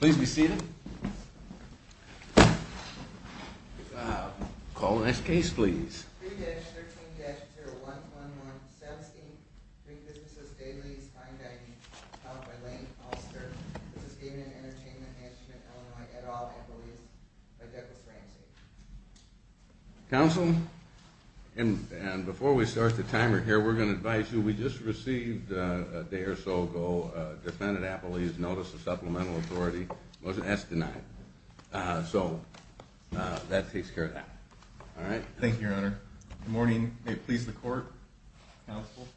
Please be seated. Call the next case, please. 3-13-0111 SEMB's, Inc. v. Gaming & Entertainment Management-Illinois, LLC Please be seated. Counsel, and before we start the timer here, we're going to advise you, we just received a day or so ago, a defendant appellee's notice of supplemental authority. Most of that's denied. So, that takes care of that. All right? Thank you, Your Honor. Good morning. May it please the Court, Counsel.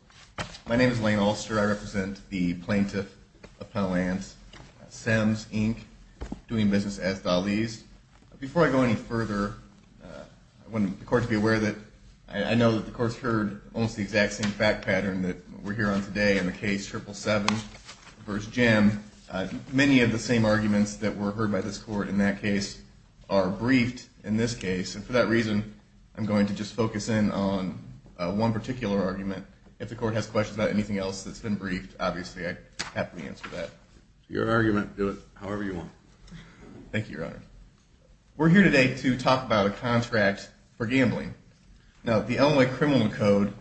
My name is Lane Ulster. I represent the plaintiff appellant, SEMB's, Inc., doing business as Dali's. Before I go any further, I want the Court to be aware that I know that the Court's heard almost the exact same fact pattern that we're here on today in the case 777 v. Jim. Many of the same arguments that were heard by this Court in that case are briefed in this case. And for that reason, I'm going to just focus in on one particular argument. If the Court has questions about anything else that's been briefed, obviously, I'd happily answer that. Your argument. Do it however you want. Thank you, Your Honor. We're here today to talk about a contract for gambling. Now, the Illinois Criminal Code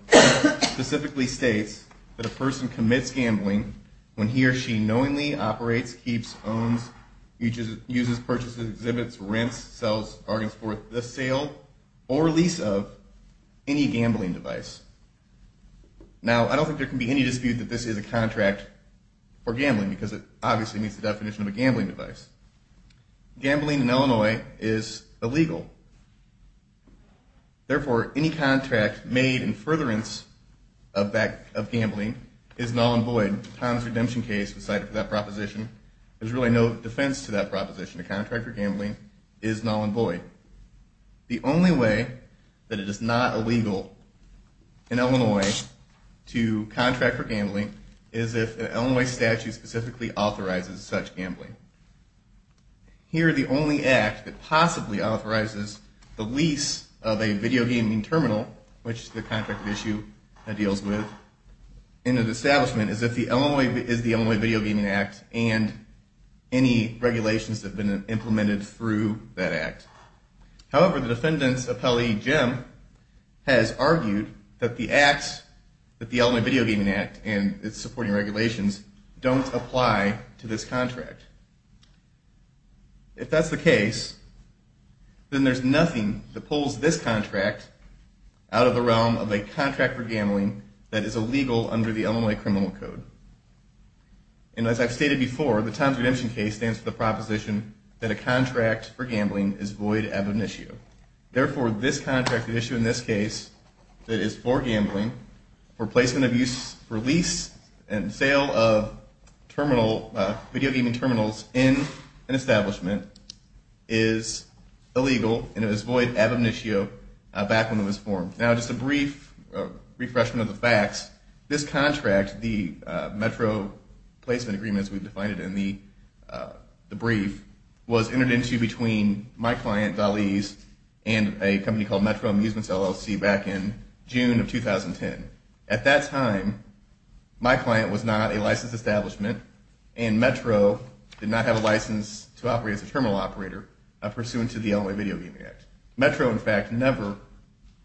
specifically states that a person commits gambling when he or she knowingly operates, keeps, owns, uses, purchases, exhibits, rents, sells, bargains for the sale or release of any gambling device. Now, I don't think there can be any dispute that this is a contract for gambling because it obviously meets the definition of a gambling device. Gambling in Illinois is illegal. Therefore, any contract made in furtherance of gambling is null and void. Tom's redemption case was cited for that proposition. There's really no defense to that proposition. A contract for gambling is null and void. The only way that it is not illegal in Illinois to contract for gambling is if an Illinois statute specifically authorizes such gambling. Here, the only act that possibly authorizes the lease of a video gaming terminal, which the contract issue deals with in an establishment, is the Illinois Video Gaming Act and any regulations that have been implemented through that act. However, the defendant's appellee, Jim, has argued that the Illinois Video Gaming Act and its supporting regulations don't apply to this contract. If that's the case, then there's nothing that pulls this contract out of the realm of a contract for gambling that is illegal under the Illinois criminal code. And as I've stated before, the Tom's redemption case stands for the proposition that a contract for gambling is void of an issue. Therefore, this contract issue in this case that is for gambling, for placement of use for lease and sale of video gaming terminals in an establishment, is illegal and is void ad omniscio back when it was formed. Now, just a brief refreshment of the facts. This contract, the Metro Placement Agreement, as we've defined it in the brief, was entered into between my client, Dali's, and a company called Metro Amusements, LLC, back in June of 2010. At that time, my client was not a licensed establishment, and Metro did not have a license to operate as a terminal operator, pursuant to the Illinois Video Gaming Act. Metro, in fact, never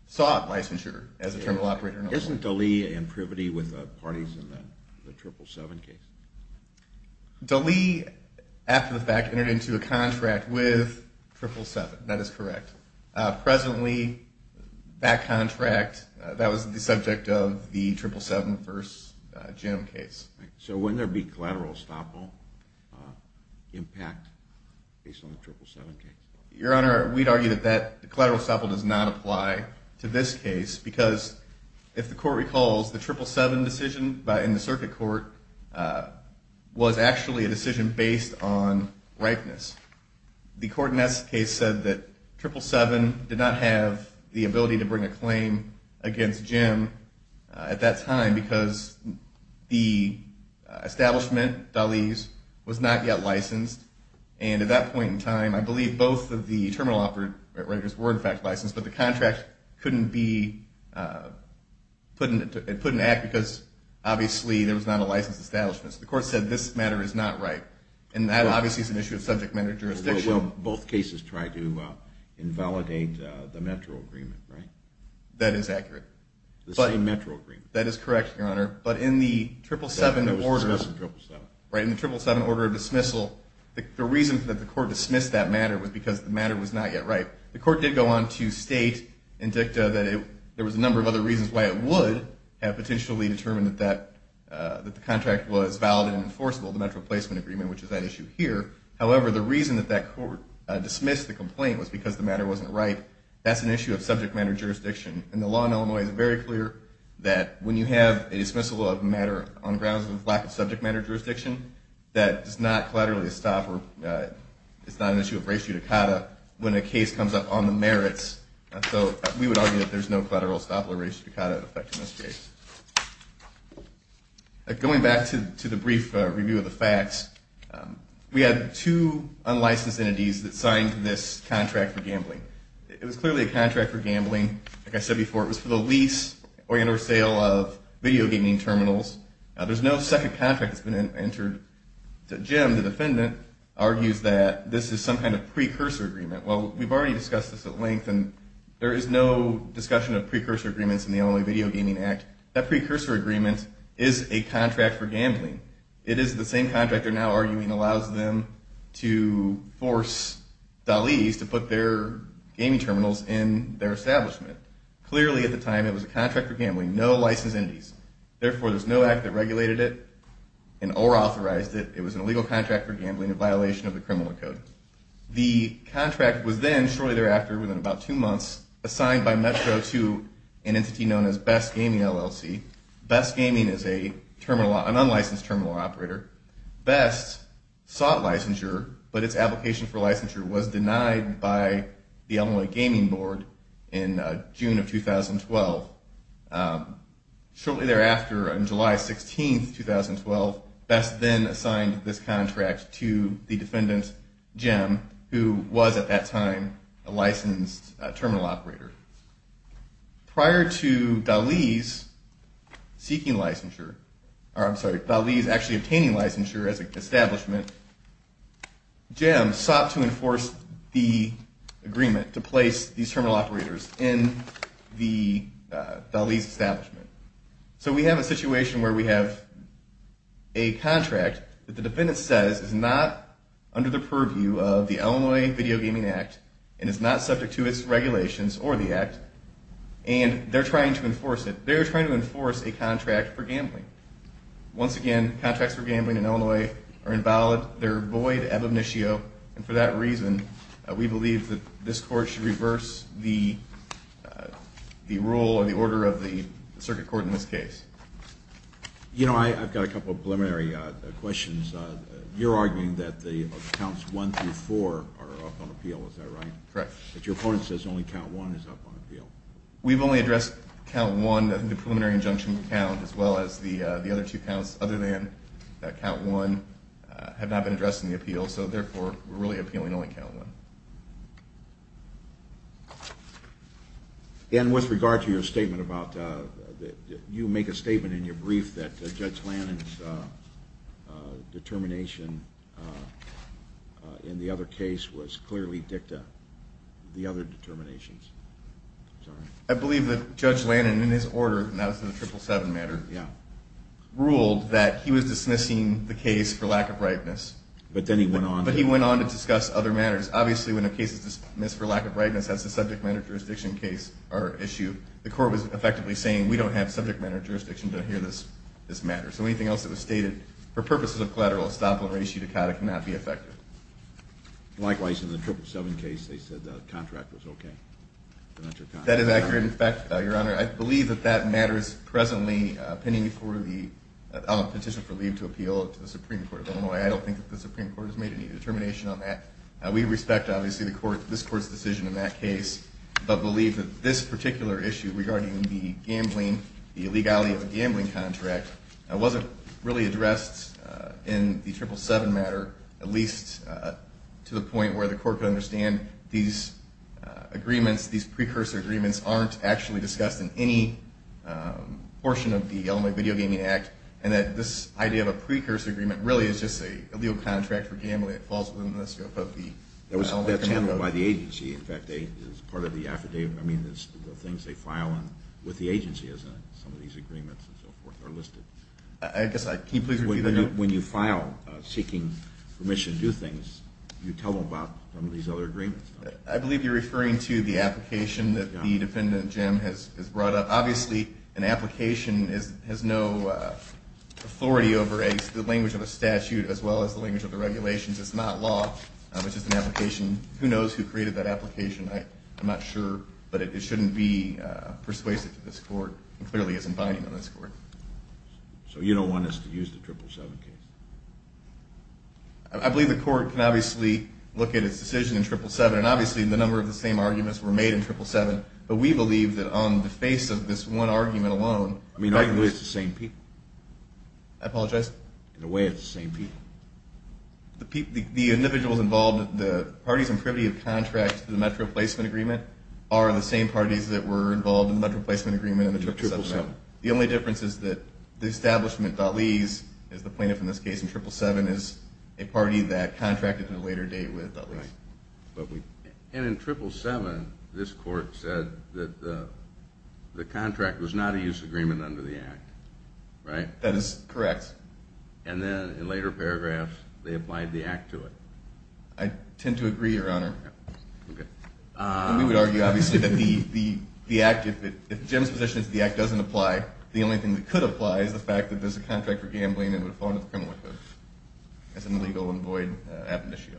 sought licensure as a terminal operator. Isn't Dali and Privity with parties in the 777 case? Dali, after the fact, entered into a contract with 777. That is correct. Presently, that contract, that was the subject of the 777 v. Jim case. So wouldn't there be collateral estoppel impact based on the 777 case? Your Honor, we'd argue that the collateral estoppel does not apply to this case because, if the Court recalls, the 777 decision in the circuit court was actually a decision based on ripeness. The court in that case said that 777 did not have the ability to bring a claim against Jim at that time because the establishment, Dali's, was not yet licensed. And at that point in time, I believe both of the terminal operators were in fact licensed, but the contract couldn't be put into act because obviously there was not a licensed establishment. So the court said this matter is not right. And that obviously is an issue of subject matter jurisdiction. Well, both cases tried to invalidate the Metro agreement, right? That is accurate. The same Metro agreement. That is correct, Your Honor. But in the 777 order of dismissal, the reason that the court dismissed that matter was because the matter was not yet right. The court did go on to state in dicta that there was a number of other reasons why it would have potentially determined that the contract was valid and enforceable, the Metro placement agreement, which is that issue here. However, the reason that that court dismissed the complaint was because the matter wasn't right. That's an issue of subject matter jurisdiction. And the law in Illinois is very clear that when you have a dismissal of matter on grounds of lack of subject matter jurisdiction, that is not collateral estoppel. It's not an issue of ratio decada. When a case comes up on the merits, we would argue that there's no collateral estoppel or ratio decada effect in this case. Going back to the brief review of the facts, we had two unlicensed entities that signed this contract for gambling. It was clearly a contract for gambling. Like I said before, it was for the lease or inter-sale of video gaming terminals. There's no second contract that's been entered. Jim, the defendant, argues that this is some kind of precursor agreement. Well, we've already discussed this at length, and there is no discussion of precursor agreements in the Illinois Video Gaming Act. That precursor agreement is a contract for gambling. It is the same contract they're now arguing allows them to force Dalis to put their gaming terminals in their establishment. Clearly, at the time, it was a contract for gambling, no licensed entities. Therefore, there's no act that regulated it or authorized it. It was an illegal contract for gambling in violation of the criminal code. The contract was then, shortly thereafter, within about two months, assigned by Metro to an entity known as Best Gaming LLC. Best Gaming is an unlicensed terminal operator. Best sought licensure, but its application for licensure was denied by the Illinois Gaming Board in June of 2012. Shortly thereafter, on July 16, 2012, Best then assigned this contract to the defendant, Jim, who was, at that time, a licensed terminal operator. Prior to Dalis seeking licensure, or I'm sorry, Dalis actually obtaining licensure as an establishment, Jim sought to enforce the agreement to place these terminal operators in Dalis' establishment. So we have a situation where we have a contract that the defendant says is not under the purview of the Illinois Video Gaming Act and is not subject to its regulations or the act, and they're trying to enforce it. They're trying to enforce a contract for gambling. Once again, contracts for gambling in Illinois are invalid. They're void, ab initio, and for that reason, we believe that this court should reverse the rule or the order of the circuit court in this case. You know, I've got a couple of preliminary questions. You're arguing that the counts 1 through 4 are up on appeal. Is that right? Correct. But your opponent says only count 1 is up on appeal. We've only addressed count 1. I think the preliminary injunction count as well as the other two counts other than count 1 have not been addressed in the appeal, so therefore we're really appealing only count 1. And with regard to your statement about you make a statement in your brief that Judge Lannon's determination in the other case was clearly dicta, the other determinations. I believe that Judge Lannon in his order, and that was in the 777 matter, ruled that he was dismissing the case for lack of rightness. But then he went on. But he went on to discuss other matters. Obviously, when a case is dismissed for lack of rightness, as the subject matter jurisdiction case or issue, the court was effectively saying we don't have subject matter jurisdiction to adhere to this matter. So anything else that was stated for purposes of collateral estoppel and ratio decada cannot be affected. Likewise, in the 777 case, they said the contract was okay. That is accurate. In fact, Your Honor, I believe that that matter is presently pending for the petition for leave to appeal to the Supreme Court. By the way, I don't think the Supreme Court has made any determination on that. We respect, obviously, this Court's decision in that case, but believe that this particular issue regarding the gambling, the illegality of a gambling contract, wasn't really addressed in the 777 matter, at least to the point where the Court could understand these agreements, these precursor agreements aren't actually discussed in any portion of the Illinois Video Gaming Act, and that this idea of a precursor agreement really is just a legal contract for gambling that falls within the scope of the Illinois Video Gaming Act. That's handled by the agency. In fact, as part of the affidavit, I mean, the things they file with the agency as some of these agreements and so forth are listed. Can you please repeat that, Your Honor? When you file seeking permission to do things, you tell them about some of these other agreements. I believe you're referring to the application that the defendant, Jim, has brought up. Obviously, an application has no authority over the language of a statute as well as the language of the regulations. It's not law. It's just an application. Who knows who created that application? I'm not sure, but it shouldn't be persuasive to this Court and clearly isn't binding on this Court. So you don't want us to use the 777 case? I believe the Court can obviously look at its decision in 777, and obviously the number of the same arguments were made in 777, but we believe that on the face of this one argument alone. I mean, arguably it's the same people. I apologize? In a way, it's the same people. The individuals involved, the parties in privity of contract to the Metro Placement Agreement are the same parties that were involved in the Metro Placement Agreement in the 777. The only difference is that the establishment, Dutleys, as the plaintiff in this case in 777, is a party that contracted to a later date with Dutleys. And in 777, this Court said that the contract was not a use agreement under the Act, right? That is correct. And then in later paragraphs, they applied the Act to it. I tend to agree, Your Honor. Okay. We would argue, obviously, that the Act, if Jim's position is that the Act doesn't apply, the only thing that could apply is the fact that there's a contract for gambling that would have fallen into the criminal record. That's an illegal and void ab initio.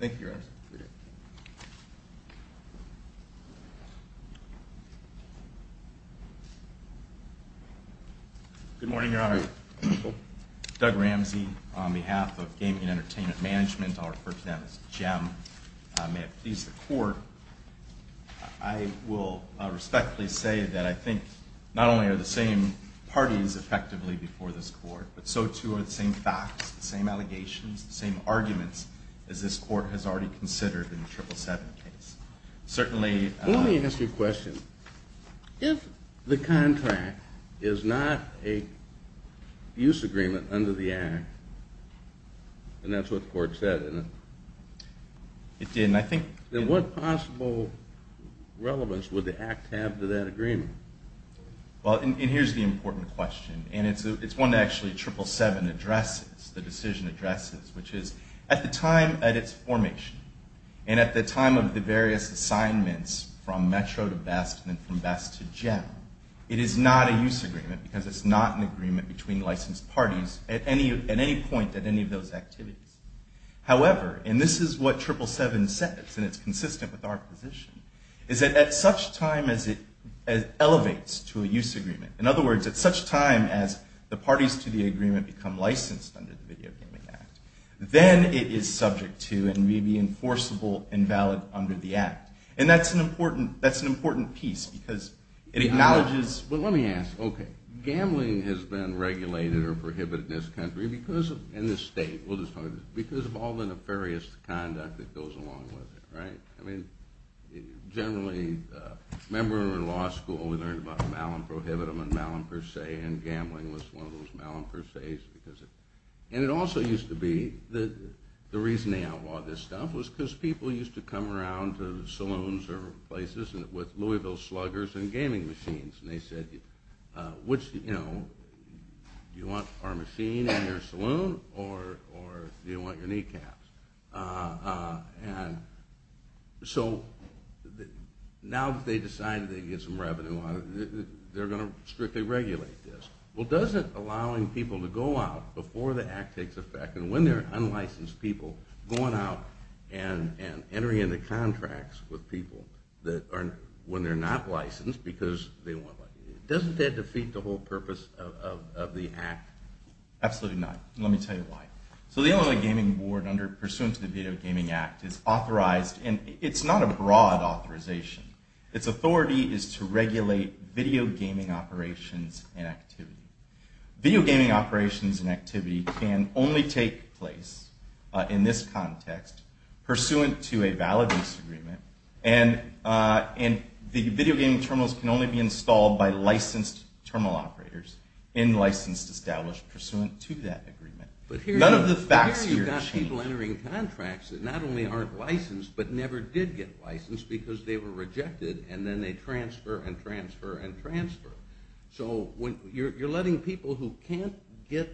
Thank you, Your Honor. Good morning, Your Honor. Doug Ramsey on behalf of Gaming and Entertainment Management. I'll refer to them as GEM. May it please the Court, I will respectfully say that I think not only are the same parties effectively before this Court, but so too are the same facts, the same allegations, the same arguments, as this Court has already considered in the 777 case. Certainly, Let me ask you a question. If the contract is not a use agreement under the Act, and that's what the Court said, then what possible relevance would the Act have to that agreement? Well, and here's the important question, and it's one that actually 777 addresses, the decision addresses, which is at the time at its formation, and at the time of the various assignments from Metro to BEST and then from BEST to GEM, it is not a use agreement because it's not an agreement between licensed parties at any point at any of those activities. However, and this is what 777 says, and it's consistent with our position, is that at such time as it elevates to a use agreement, in other words, at such time as the parties to the agreement become licensed under the Video Gaming Act, then it is subject to and may be enforceable and valid under the Act. And that's an important piece because it acknowledges, Well, let me ask, okay. Gambling has been regulated or prohibited in this country because, in this state, we'll just talk about this, because of all the nefarious conduct that goes along with it, right? I mean, generally, remember when we were in law school, we learned about Malum Prohibitum and Malum Per Se, and gambling was one of those Malum Per Ses. And it also used to be that the reason they outlawed this stuff was because people used to come around to saloons or places with Louisville sluggers and gaming machines, and they said, Which, you know, do you want our machine in your saloon or do you want your kneecaps? And so now that they decided they could get some revenue out of it, they're going to strictly regulate this. Well, does it, allowing people to go out before the Act takes effect and when they're unlicensed people going out and entering into contracts with people when they're not licensed because they don't want to. Doesn't that defeat the whole purpose of the Act? Absolutely not, and let me tell you why. So the Illinois Gaming Board, pursuant to the Video Gaming Act, is authorized, and it's not a broad authorization. Its authority is to regulate video gaming operations and activity. Video gaming operations and activity can only take place, in this context, pursuant to a valid lease agreement, and the video gaming terminals can only be installed by licensed terminal operators and licensed established pursuant to that agreement. None of the facts here change. But here you've got people entering contracts that not only aren't licensed but never did get licensed because they were rejected and then they transfer and transfer and transfer. So you're letting people who can't get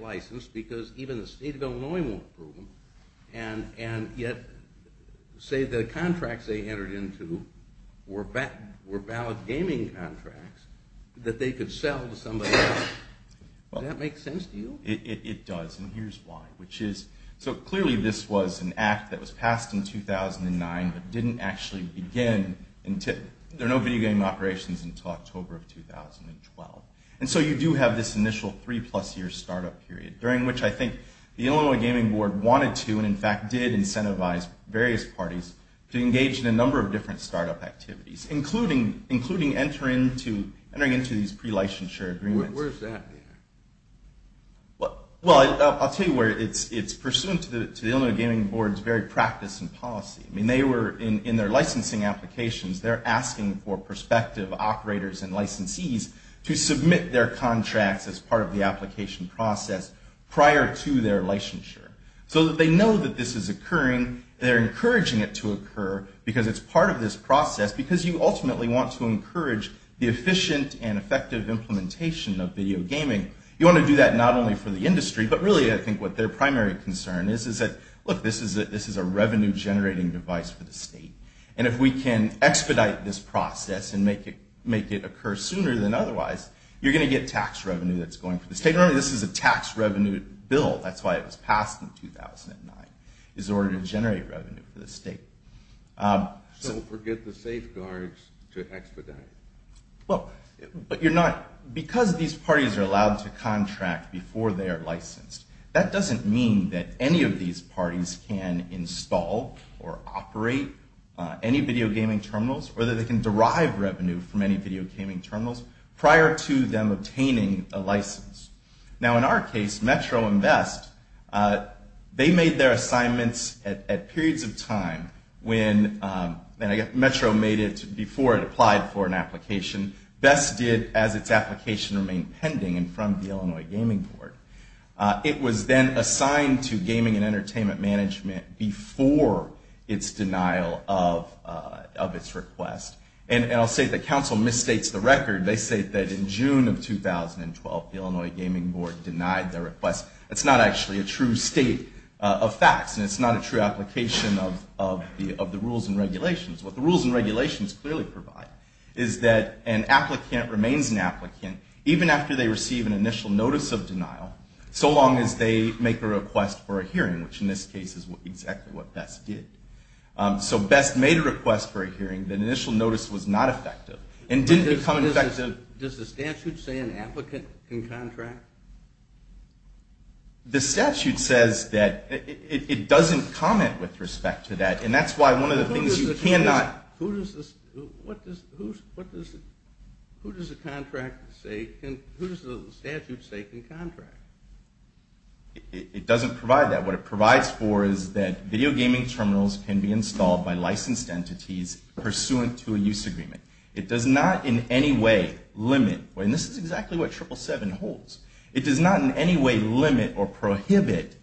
licensed because even the state of Illinois won't approve them, and yet say the contracts they entered into were valid gaming contracts that they could sell to somebody else. Does that make sense to you? It does, and here's why. So clearly this was an Act that was passed in 2009 but didn't actually begin until, there are no video game operations until October of 2012. And so you do have this initial three-plus-year startup period during which I think the Illinois Gaming Board wanted to, and in fact did incentivize various parties to engage in a number of different startup activities, including entering into these pre-licensure agreements. Where's that? Well, I'll tell you where. It's pursuant to the Illinois Gaming Board's very practice and policy. I mean, they were, in their licensing applications, they're asking for prospective operators and licensees to submit their contracts as part of the application process prior to their licensure. So that they know that this is occurring, they're encouraging it to occur because it's part of this process, because you ultimately want to encourage the efficient and effective implementation of video gaming. You want to do that not only for the industry, but really I think what their primary concern is, is that, look, this is a revenue-generating device for the state. And if we can expedite this process and make it occur sooner than otherwise, you're going to get tax revenue that's going for the state. Remember, this is a tax revenue bill. That's why it was passed in 2009, is in order to generate revenue for the state. So we'll forget the safeguards to expedite. Well, but you're not, because these parties are allowed to contract before they are licensed, that doesn't mean that any of these parties can install or operate any video gaming terminals, or that they can derive revenue from any video gaming terminals prior to them obtaining a license. Now, in our case, Metro and Vest, they made their assignments at periods of time when, and Metro made it before it applied for an application. Vest did as its application remained pending and from the Illinois Gaming Board. It was then assigned to gaming and entertainment management before its denial of its request. And I'll say the council misstates the record. They say that in June of 2012, the Illinois Gaming Board denied their request. That's not actually a true state of facts, and it's not a true application of the rules and regulations. What the rules and regulations clearly provide is that an applicant remains an applicant even after they receive an initial notice of denial, so long as they make a request for a hearing, which in this case is exactly what Vest did. So Vest made a request for a hearing. The initial notice was not effective and didn't become effective... Does the statute say an applicant can contract? The statute says that. It doesn't comment with respect to that, and that's why one of the things you cannot... Who does the contract say, who does the statute say can contract? It doesn't provide that. What it provides for is that video gaming terminals can be installed by licensed entities pursuant to a use agreement. It does not in any way limit... And this is exactly what 777 holds. It does not in any way limit or prohibit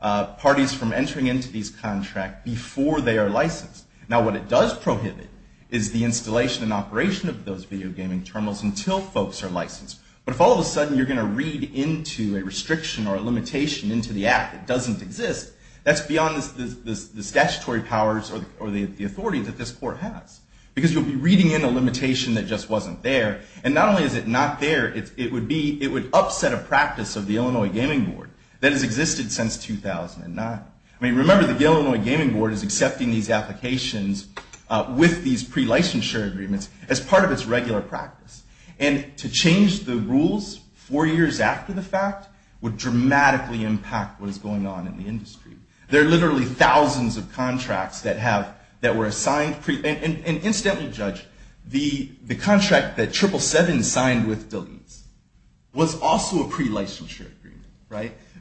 parties from entering into these contracts before they are licensed. Now, what it does prohibit is the installation and operation of those video gaming terminals until folks are licensed. But if all of a sudden you're going to read into a restriction or a limitation into the act that doesn't exist, that's beyond the statutory powers or the authority that this court has. Because you'll be reading in a limitation that just wasn't there. And not only is it not there, it would upset a practice of the Illinois Gaming Board that has existed since 2009. Remember, the Illinois Gaming Board is accepting these applications with these pre-licensure agreements as part of its regular practice. And to change the rules four years after the fact would dramatically impact what is going on in the industry. There are literally thousands of contracts that were assigned... And incidentally, Judge, the contract that 777 signed with DeLees was also a pre-licensure agreement.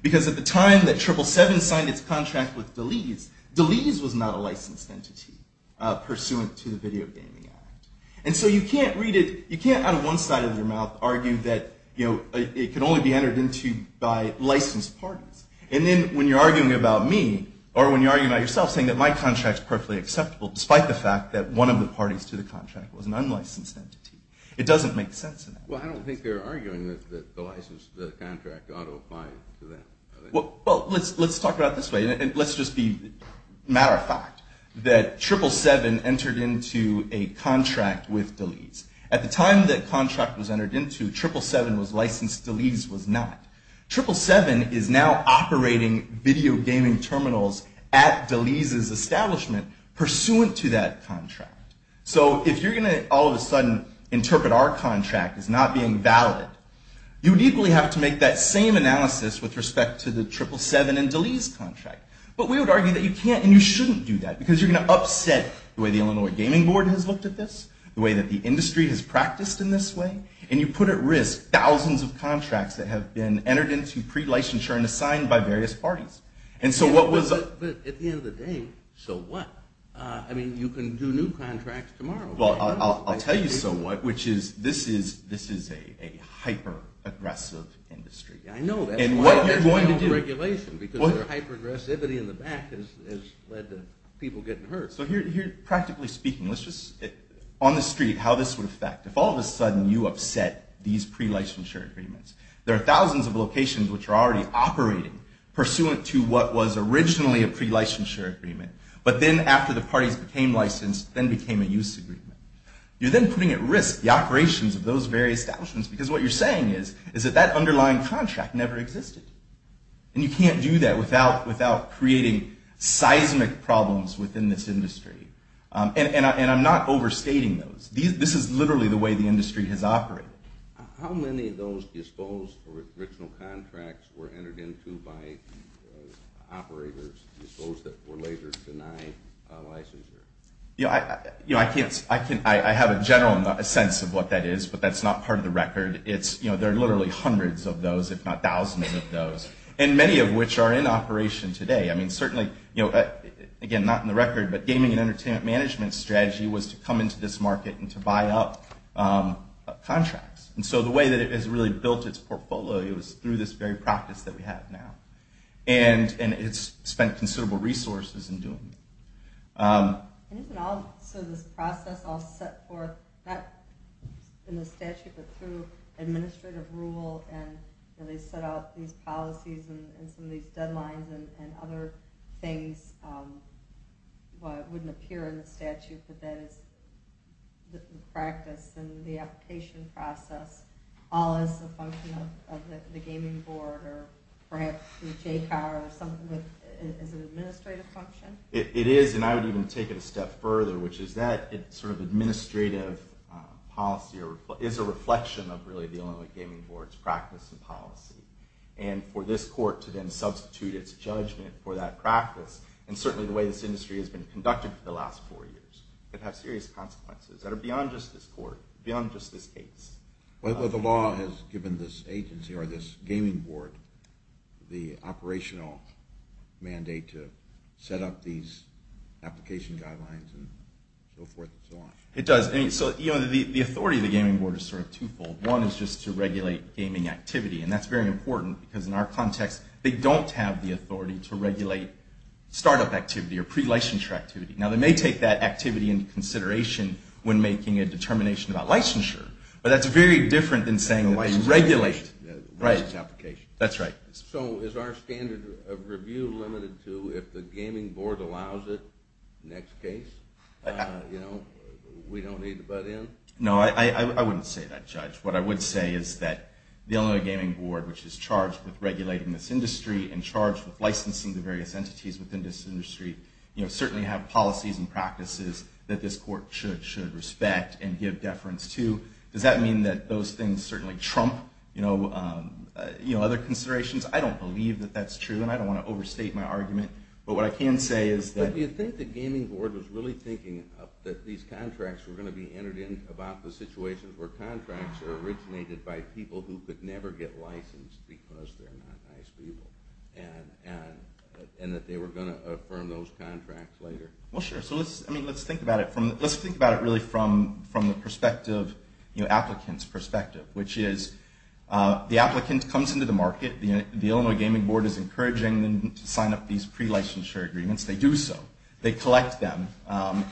Because at the time that 777 signed its contract with DeLees, DeLees was not a licensed entity pursuant to the Video Gaming Act. And so you can't read it... You can't, out of one side of your mouth, argue that it can only be entered into by licensed parties. And then when you're arguing about me, or when you're arguing about yourself, saying that my contract is perfectly acceptable despite the fact that one of the parties to the contract was an unlicensed entity, it doesn't make sense. Well, I don't think they're arguing that the contract ought to apply to them. Well, let's talk about it this way. And let's just be matter-of-fact that 777 entered into a contract with DeLees. At the time that contract was entered into, 777 was licensed. DeLees was not. 777 is now operating video gaming terminals at DeLees' establishment pursuant to that contract. So if you're going to, all of a sudden, interpret our contract as not being valid, you would equally have to make that same analysis with respect to the 777 and DeLees contract. But we would argue that you can't, and you shouldn't do that, because you're going to upset the way the Illinois Gaming Board has looked at this, the way that the industry has practiced in this way, and you put at risk thousands of contracts that have been entered into pre-licensure and assigned by various parties. But at the end of the day, so what? I mean, you can do new contracts tomorrow. Well, I'll tell you so what, which is, this is a hyper-aggressive industry. And what are you going to do? Because their hyper-aggressivity in the back has led to people getting hurt. Practically speaking, on the street, how this would affect, if all of a sudden you upset these pre-licensure agreements, there are thousands of locations which are already operating pursuant to what was originally a pre-licensure agreement. But then after the parties became licensed, then became a use agreement. You're then putting at risk the operations of those various establishments, because what you're saying is that that underlying contract never existed. And you can't do that without creating seismic problems within this industry. And I'm not overstating those. This is literally the way the industry has operated. How many of those disposed original contracts were entered into by operators that were later denied licensure? I have a general sense of what that is, but that's not part of the record. There are literally hundreds of those, if not thousands of those, and many of which are in operation today. I mean, certainly, again, not in the record, but gaming and entertainment management strategy was to come into this market and to buy up contracts. And so the way that it has really built its portfolio is through this very practice that we have now. And it's spent considerable resources in doing that. And isn't all this process all set forth not in the statute, but through administrative rule, and they set out these policies and some of these deadlines and other things that wouldn't appear in the statute, but that is the practice and the application process all as a function of the gaming board or perhaps through JCOB or something as an administrative function? It is, and I would even take it a step further, which is that it's sort of administrative policy or is a reflection of really dealing with gaming board's practice and policy. And for this court to then substitute its judgment for that practice, and certainly the way this industry has been conducted for the last four years, could have serious consequences that are beyond just this court, beyond just this case. But the law has given this agency or this gaming board the operational mandate to set up these application guidelines and so forth and so on. It does. The authority of the gaming board is sort of two-fold. One is just to regulate gaming activity, and that's very important because in our context, they don't have the authority to regulate startup activity or pre-licensure activity. Now they may take that activity into consideration when making a determination about licensure, but that's very different than saying that they regulate these applications. So is our standard of review limited to if the gaming board allows it, next case, we don't need to butt in? No, I wouldn't say that, Judge. What I would say is that the Illinois Gaming Board, which is charged with regulating this industry and charged with licensing the various entities within this industry, certainly have policies and practices that this court should respect and give deference to. Does that mean that those things certainly trump other considerations? I don't believe that that's true, and I don't want to overstate my argument, but what I can say is that... Do you think the gaming board was really thinking that these contracts were going to be entered in about the situation where contracts are originated by people who could never get licensed because they're not nice people, and that they were going to So let's think about it really from the applicant's perspective, which is the applicant comes into the market, the Illinois Gaming Board is encouraging them to sign up these pre-licensure agreements. They do so. They collect them, and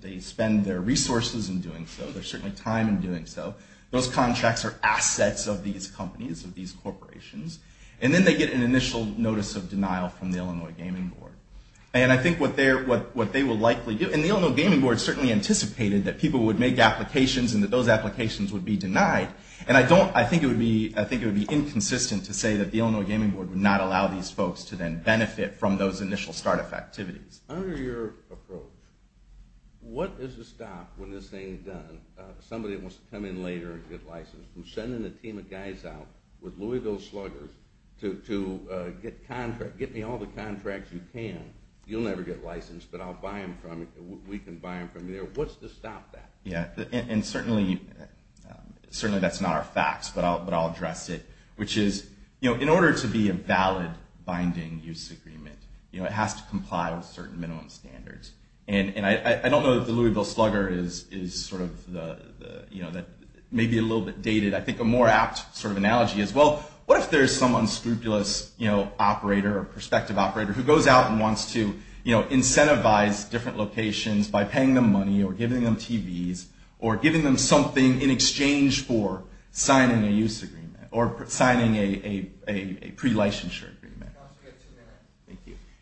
they spend their resources in doing so, their time in doing so. Those contracts are assets of these companies, of these corporations, and then they get an initial notice of denial from the Illinois Gaming Board. And I think what they will likely do, and the Illinois Gaming Board certainly anticipated that people would make applications and that those applications would be denied, and I think it would be inconsistent to say that the Illinois Gaming Board would not allow these folks to then benefit from those initial start-up activities. Under your approach, what is the stop when this thing is done, somebody who wants to come in later and get licensed, who's sending a team of guys out with Louisville sluggers to get contracts, get me all the contracts you can. You'll never get licensed, but I'll buy them from you. We can buy them from you. What's the stop there? Yeah, and certainly that's not our facts, but I'll address it, which is in order to be a valid binding use agreement, it has to comply with certain minimum standards. And I don't know if the Louisville slugger is sort of maybe a little bit dated. I think a more apt sort of scrupulous operator or perspective operator who goes out and wants to incentivize different locations by paying them money or giving them TVs or giving them something in exchange for signing a use agreement or signing a pre-licensure agreement.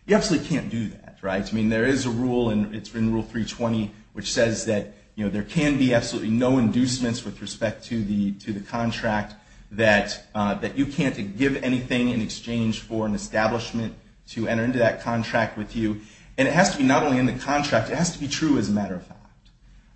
You absolutely can't do that. There is a rule in Rule 320 which says that there can be absolutely no inducements with respect to the contract that you can't give anything in exchange for an establishment to enter into that contract with you. And it has to be not only in the contract, it has to be true as a matter of fact.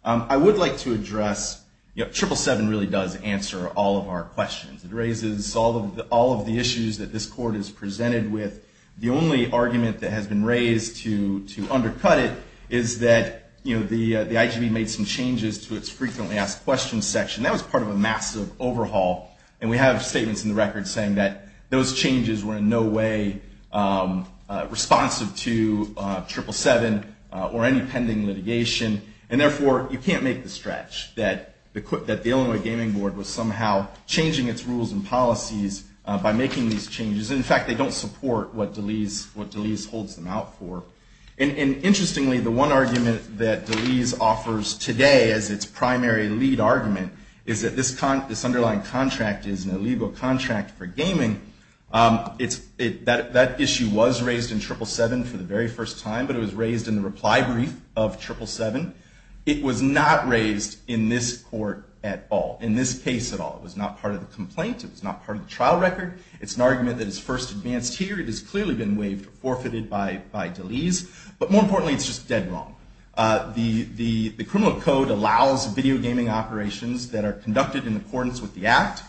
I would like to address, 777 really does answer all of our questions. It raises all of the issues that this Court has presented with. The only argument that has been raised to undercut it is that the IGB made some changes to its frequently asked questions section. That was part of a massive overhaul. And we have statements in the record saying that those changes were in no way responsive to 777 or any pending litigation. And therefore, you can't make the stretch that the Illinois Gaming Board was somehow changing its rules and policies by making these changes. In fact, they don't support what DeLees holds them out for. And interestingly, the one argument that DeLees offers today as its primary lead argument is that this underlying contract is an illegal contract for gaming. That issue was raised in 777 for the very first time, but it was raised in the reply brief of 777. It was not raised in this Court at all, in this case at all. It was not part of the complaint. It was not part of the trial record. It's an argument that is first advanced here. It has clearly been waived or forfeited by DeLees. But more importantly, it's just dead wrong. The video gaming operations that are conducted in accordance with the Act,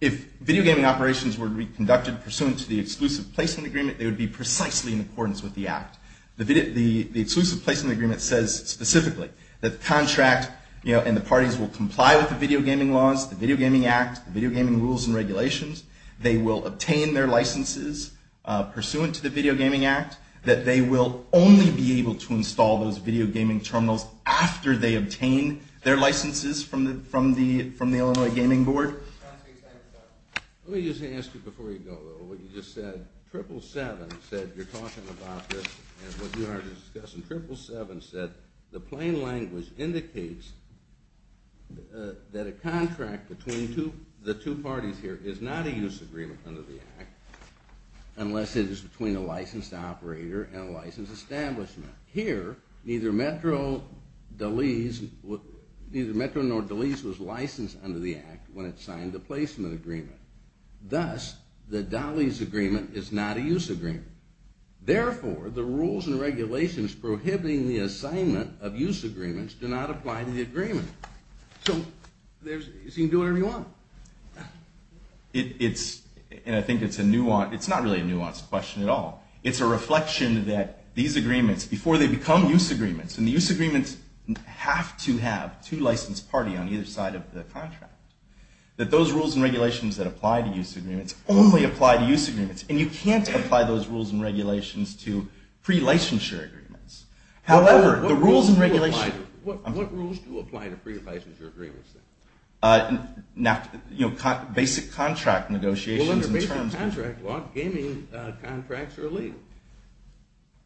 if video gaming operations were to be conducted pursuant to the exclusive placement agreement, they would be precisely in accordance with the Act. The exclusive placement agreement says specifically that the contract and the parties will comply with the video gaming laws, the Video Gaming Act, the video gaming rules and regulations. They will obtain their licenses pursuant to the Video Gaming Act, that they will only be able to install those video gaming terminals after they obtain their licenses from the Illinois Gaming Board. Let me just ask you before you go, what you just said. 777 said you're talking about this and what you are discussing. 777 said the plain language indicates that a contract between the two parties here is not a use agreement under the Act unless it is between a licensed operator and a licensed establishment. Here, neither Metro nor Delis was licensed under the Act when it signed a placement agreement. Thus, the DALYS agreement is not a use agreement. Therefore, the rules and regulations prohibiting the assignment of use agreements do not apply to the agreement. So, you can do whatever you want. It's and I think it's a nuance, it's not really a nuance question at all. It's a reflection that these agreements, before they become use agreements and the use agreements have to have two licensed parties on either side of the contract, that those rules and regulations that apply to use agreements only apply to use agreements and you can't apply those rules and regulations to pre-licensure agreements. However, the rules and regulations What rules do apply to pre-licensure agreements? Basic contract negotiations and terms Well, gaming contracts are illegal.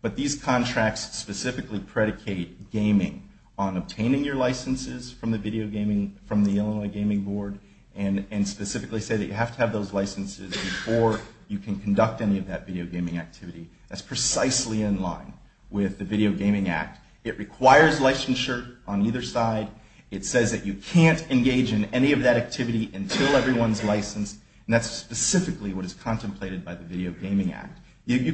But these contracts specifically predicate gaming on obtaining your licenses from the Illinois Gaming Board and specifically say that you have to have those licenses before you can conduct any of that video gaming activity. That's precisely in line with the Video Gaming Act. It requires licensure on either side. It says that you can't engage in any of that activity until everyone's licensed and that's specifically what is contemplated by the Video Gaming Act. You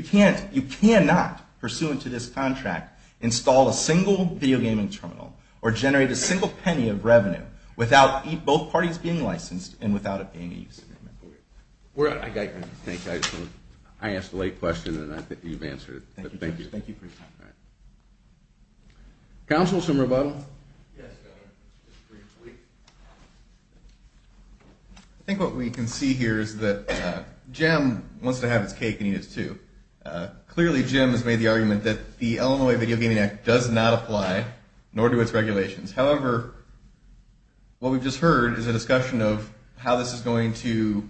cannot, pursuant to this contract, install a single video gaming terminal or generate a single penny of revenue without both parties being licensed and without it being a use agreement. I think I asked a late question and I think you've answered it. Thank you. Councilor Sumerbottom Yes, Governor. I think what we can see here is that Jim wants to have his cake and eat it too. Clearly Jim has made the argument that the Illinois Video Gaming Act does not apply nor do its regulations. However, what we've just heard is a discussion of how this is going to,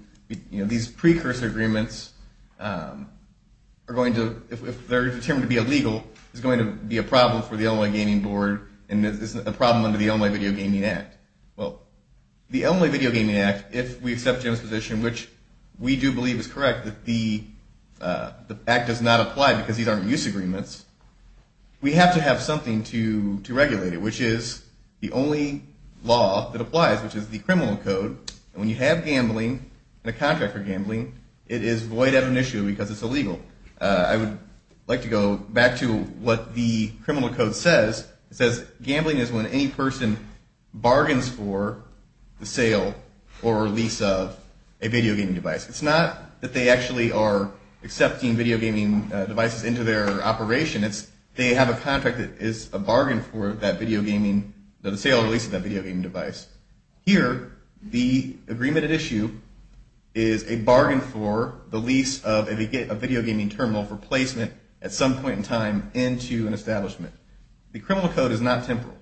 you know, these precursor agreements are going to, if they're determined to be illegal, is going to be a problem for the Illinois Gaming Board and a problem under the Illinois Video Gaming Act. Well, the Illinois Video Gaming Act, if we accept Jim's position, which we do believe is correct, that the act does not apply because these aren't use agreements, we have to have something to regulate it, which is the only law that applies, which is the criminal code. When you have gambling and a contractor gambling, it is void of an issue because it's illegal. I would like to go back to what the criminal code says. It says gambling is when any person bargains for the sale or release of a video gaming device. It's not that they actually are accepting video gaming devices into their operation, it's they have a contract that is a bargain for that video gaming, the sale or release of that video gaming device. Here, the agreement at issue is a bargain for the lease of a video gaming terminal for placement at some point in time into an establishment. The criminal code is not temporal.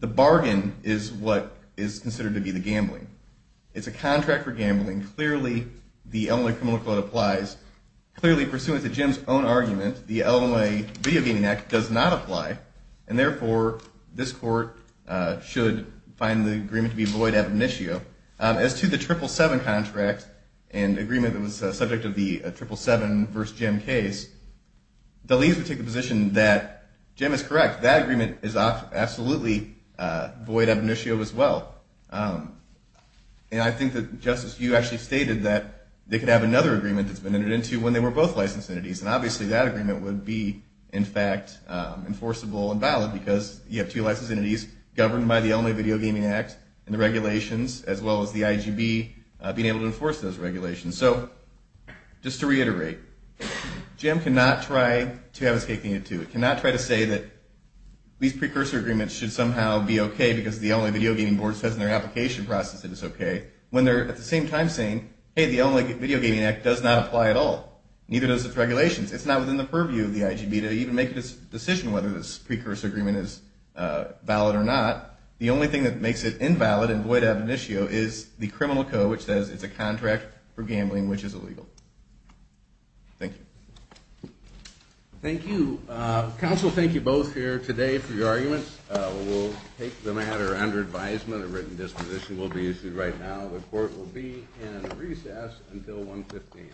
The bargain is what is considered to be the gambling. It's a contract for gambling. Clearly the Illinois criminal code applies. Clearly, pursuant to Jim's own argument, the Illinois Video Gaming Act does not apply, and therefore this court should find the agreement to be void of an issue. As to the triple seven contract and agreement that is a subject of the triple seven versus Jim case, the lease would take the position that, Jim is correct, that agreement is absolutely void of an issue as well. And I think that, Justice, you actually stated that they could have another agreement that's been entered into when they were both licensed entities, and obviously that agreement would be, in fact, enforceable and valid because you have two licensed entities governed by the Illinois Video Gaming Act and the regulations as well as the IGB being able to enforce those regulations. So, just to reiterate, Jim cannot try to have his cake and eat it too. He cannot try to say that these precursor agreements should somehow be okay because the Illinois Video Gaming Board says in their application process that it's okay, when they're at the same time saying hey, the Illinois Video Gaming Act does not apply at all. Neither does its regulations. It's not within the purview of the IGB to even make a decision whether this precursor agreement is valid or not. The only thing that makes it invalid and void of an issue is the criminal code which says it's a contract for gambling which is illegal. Thank you. Thank you. Counsel, thank you both here today for your arguments. We'll take the matter under advisement. A written disposition will be issued right now. The court will be in recess until 1.15.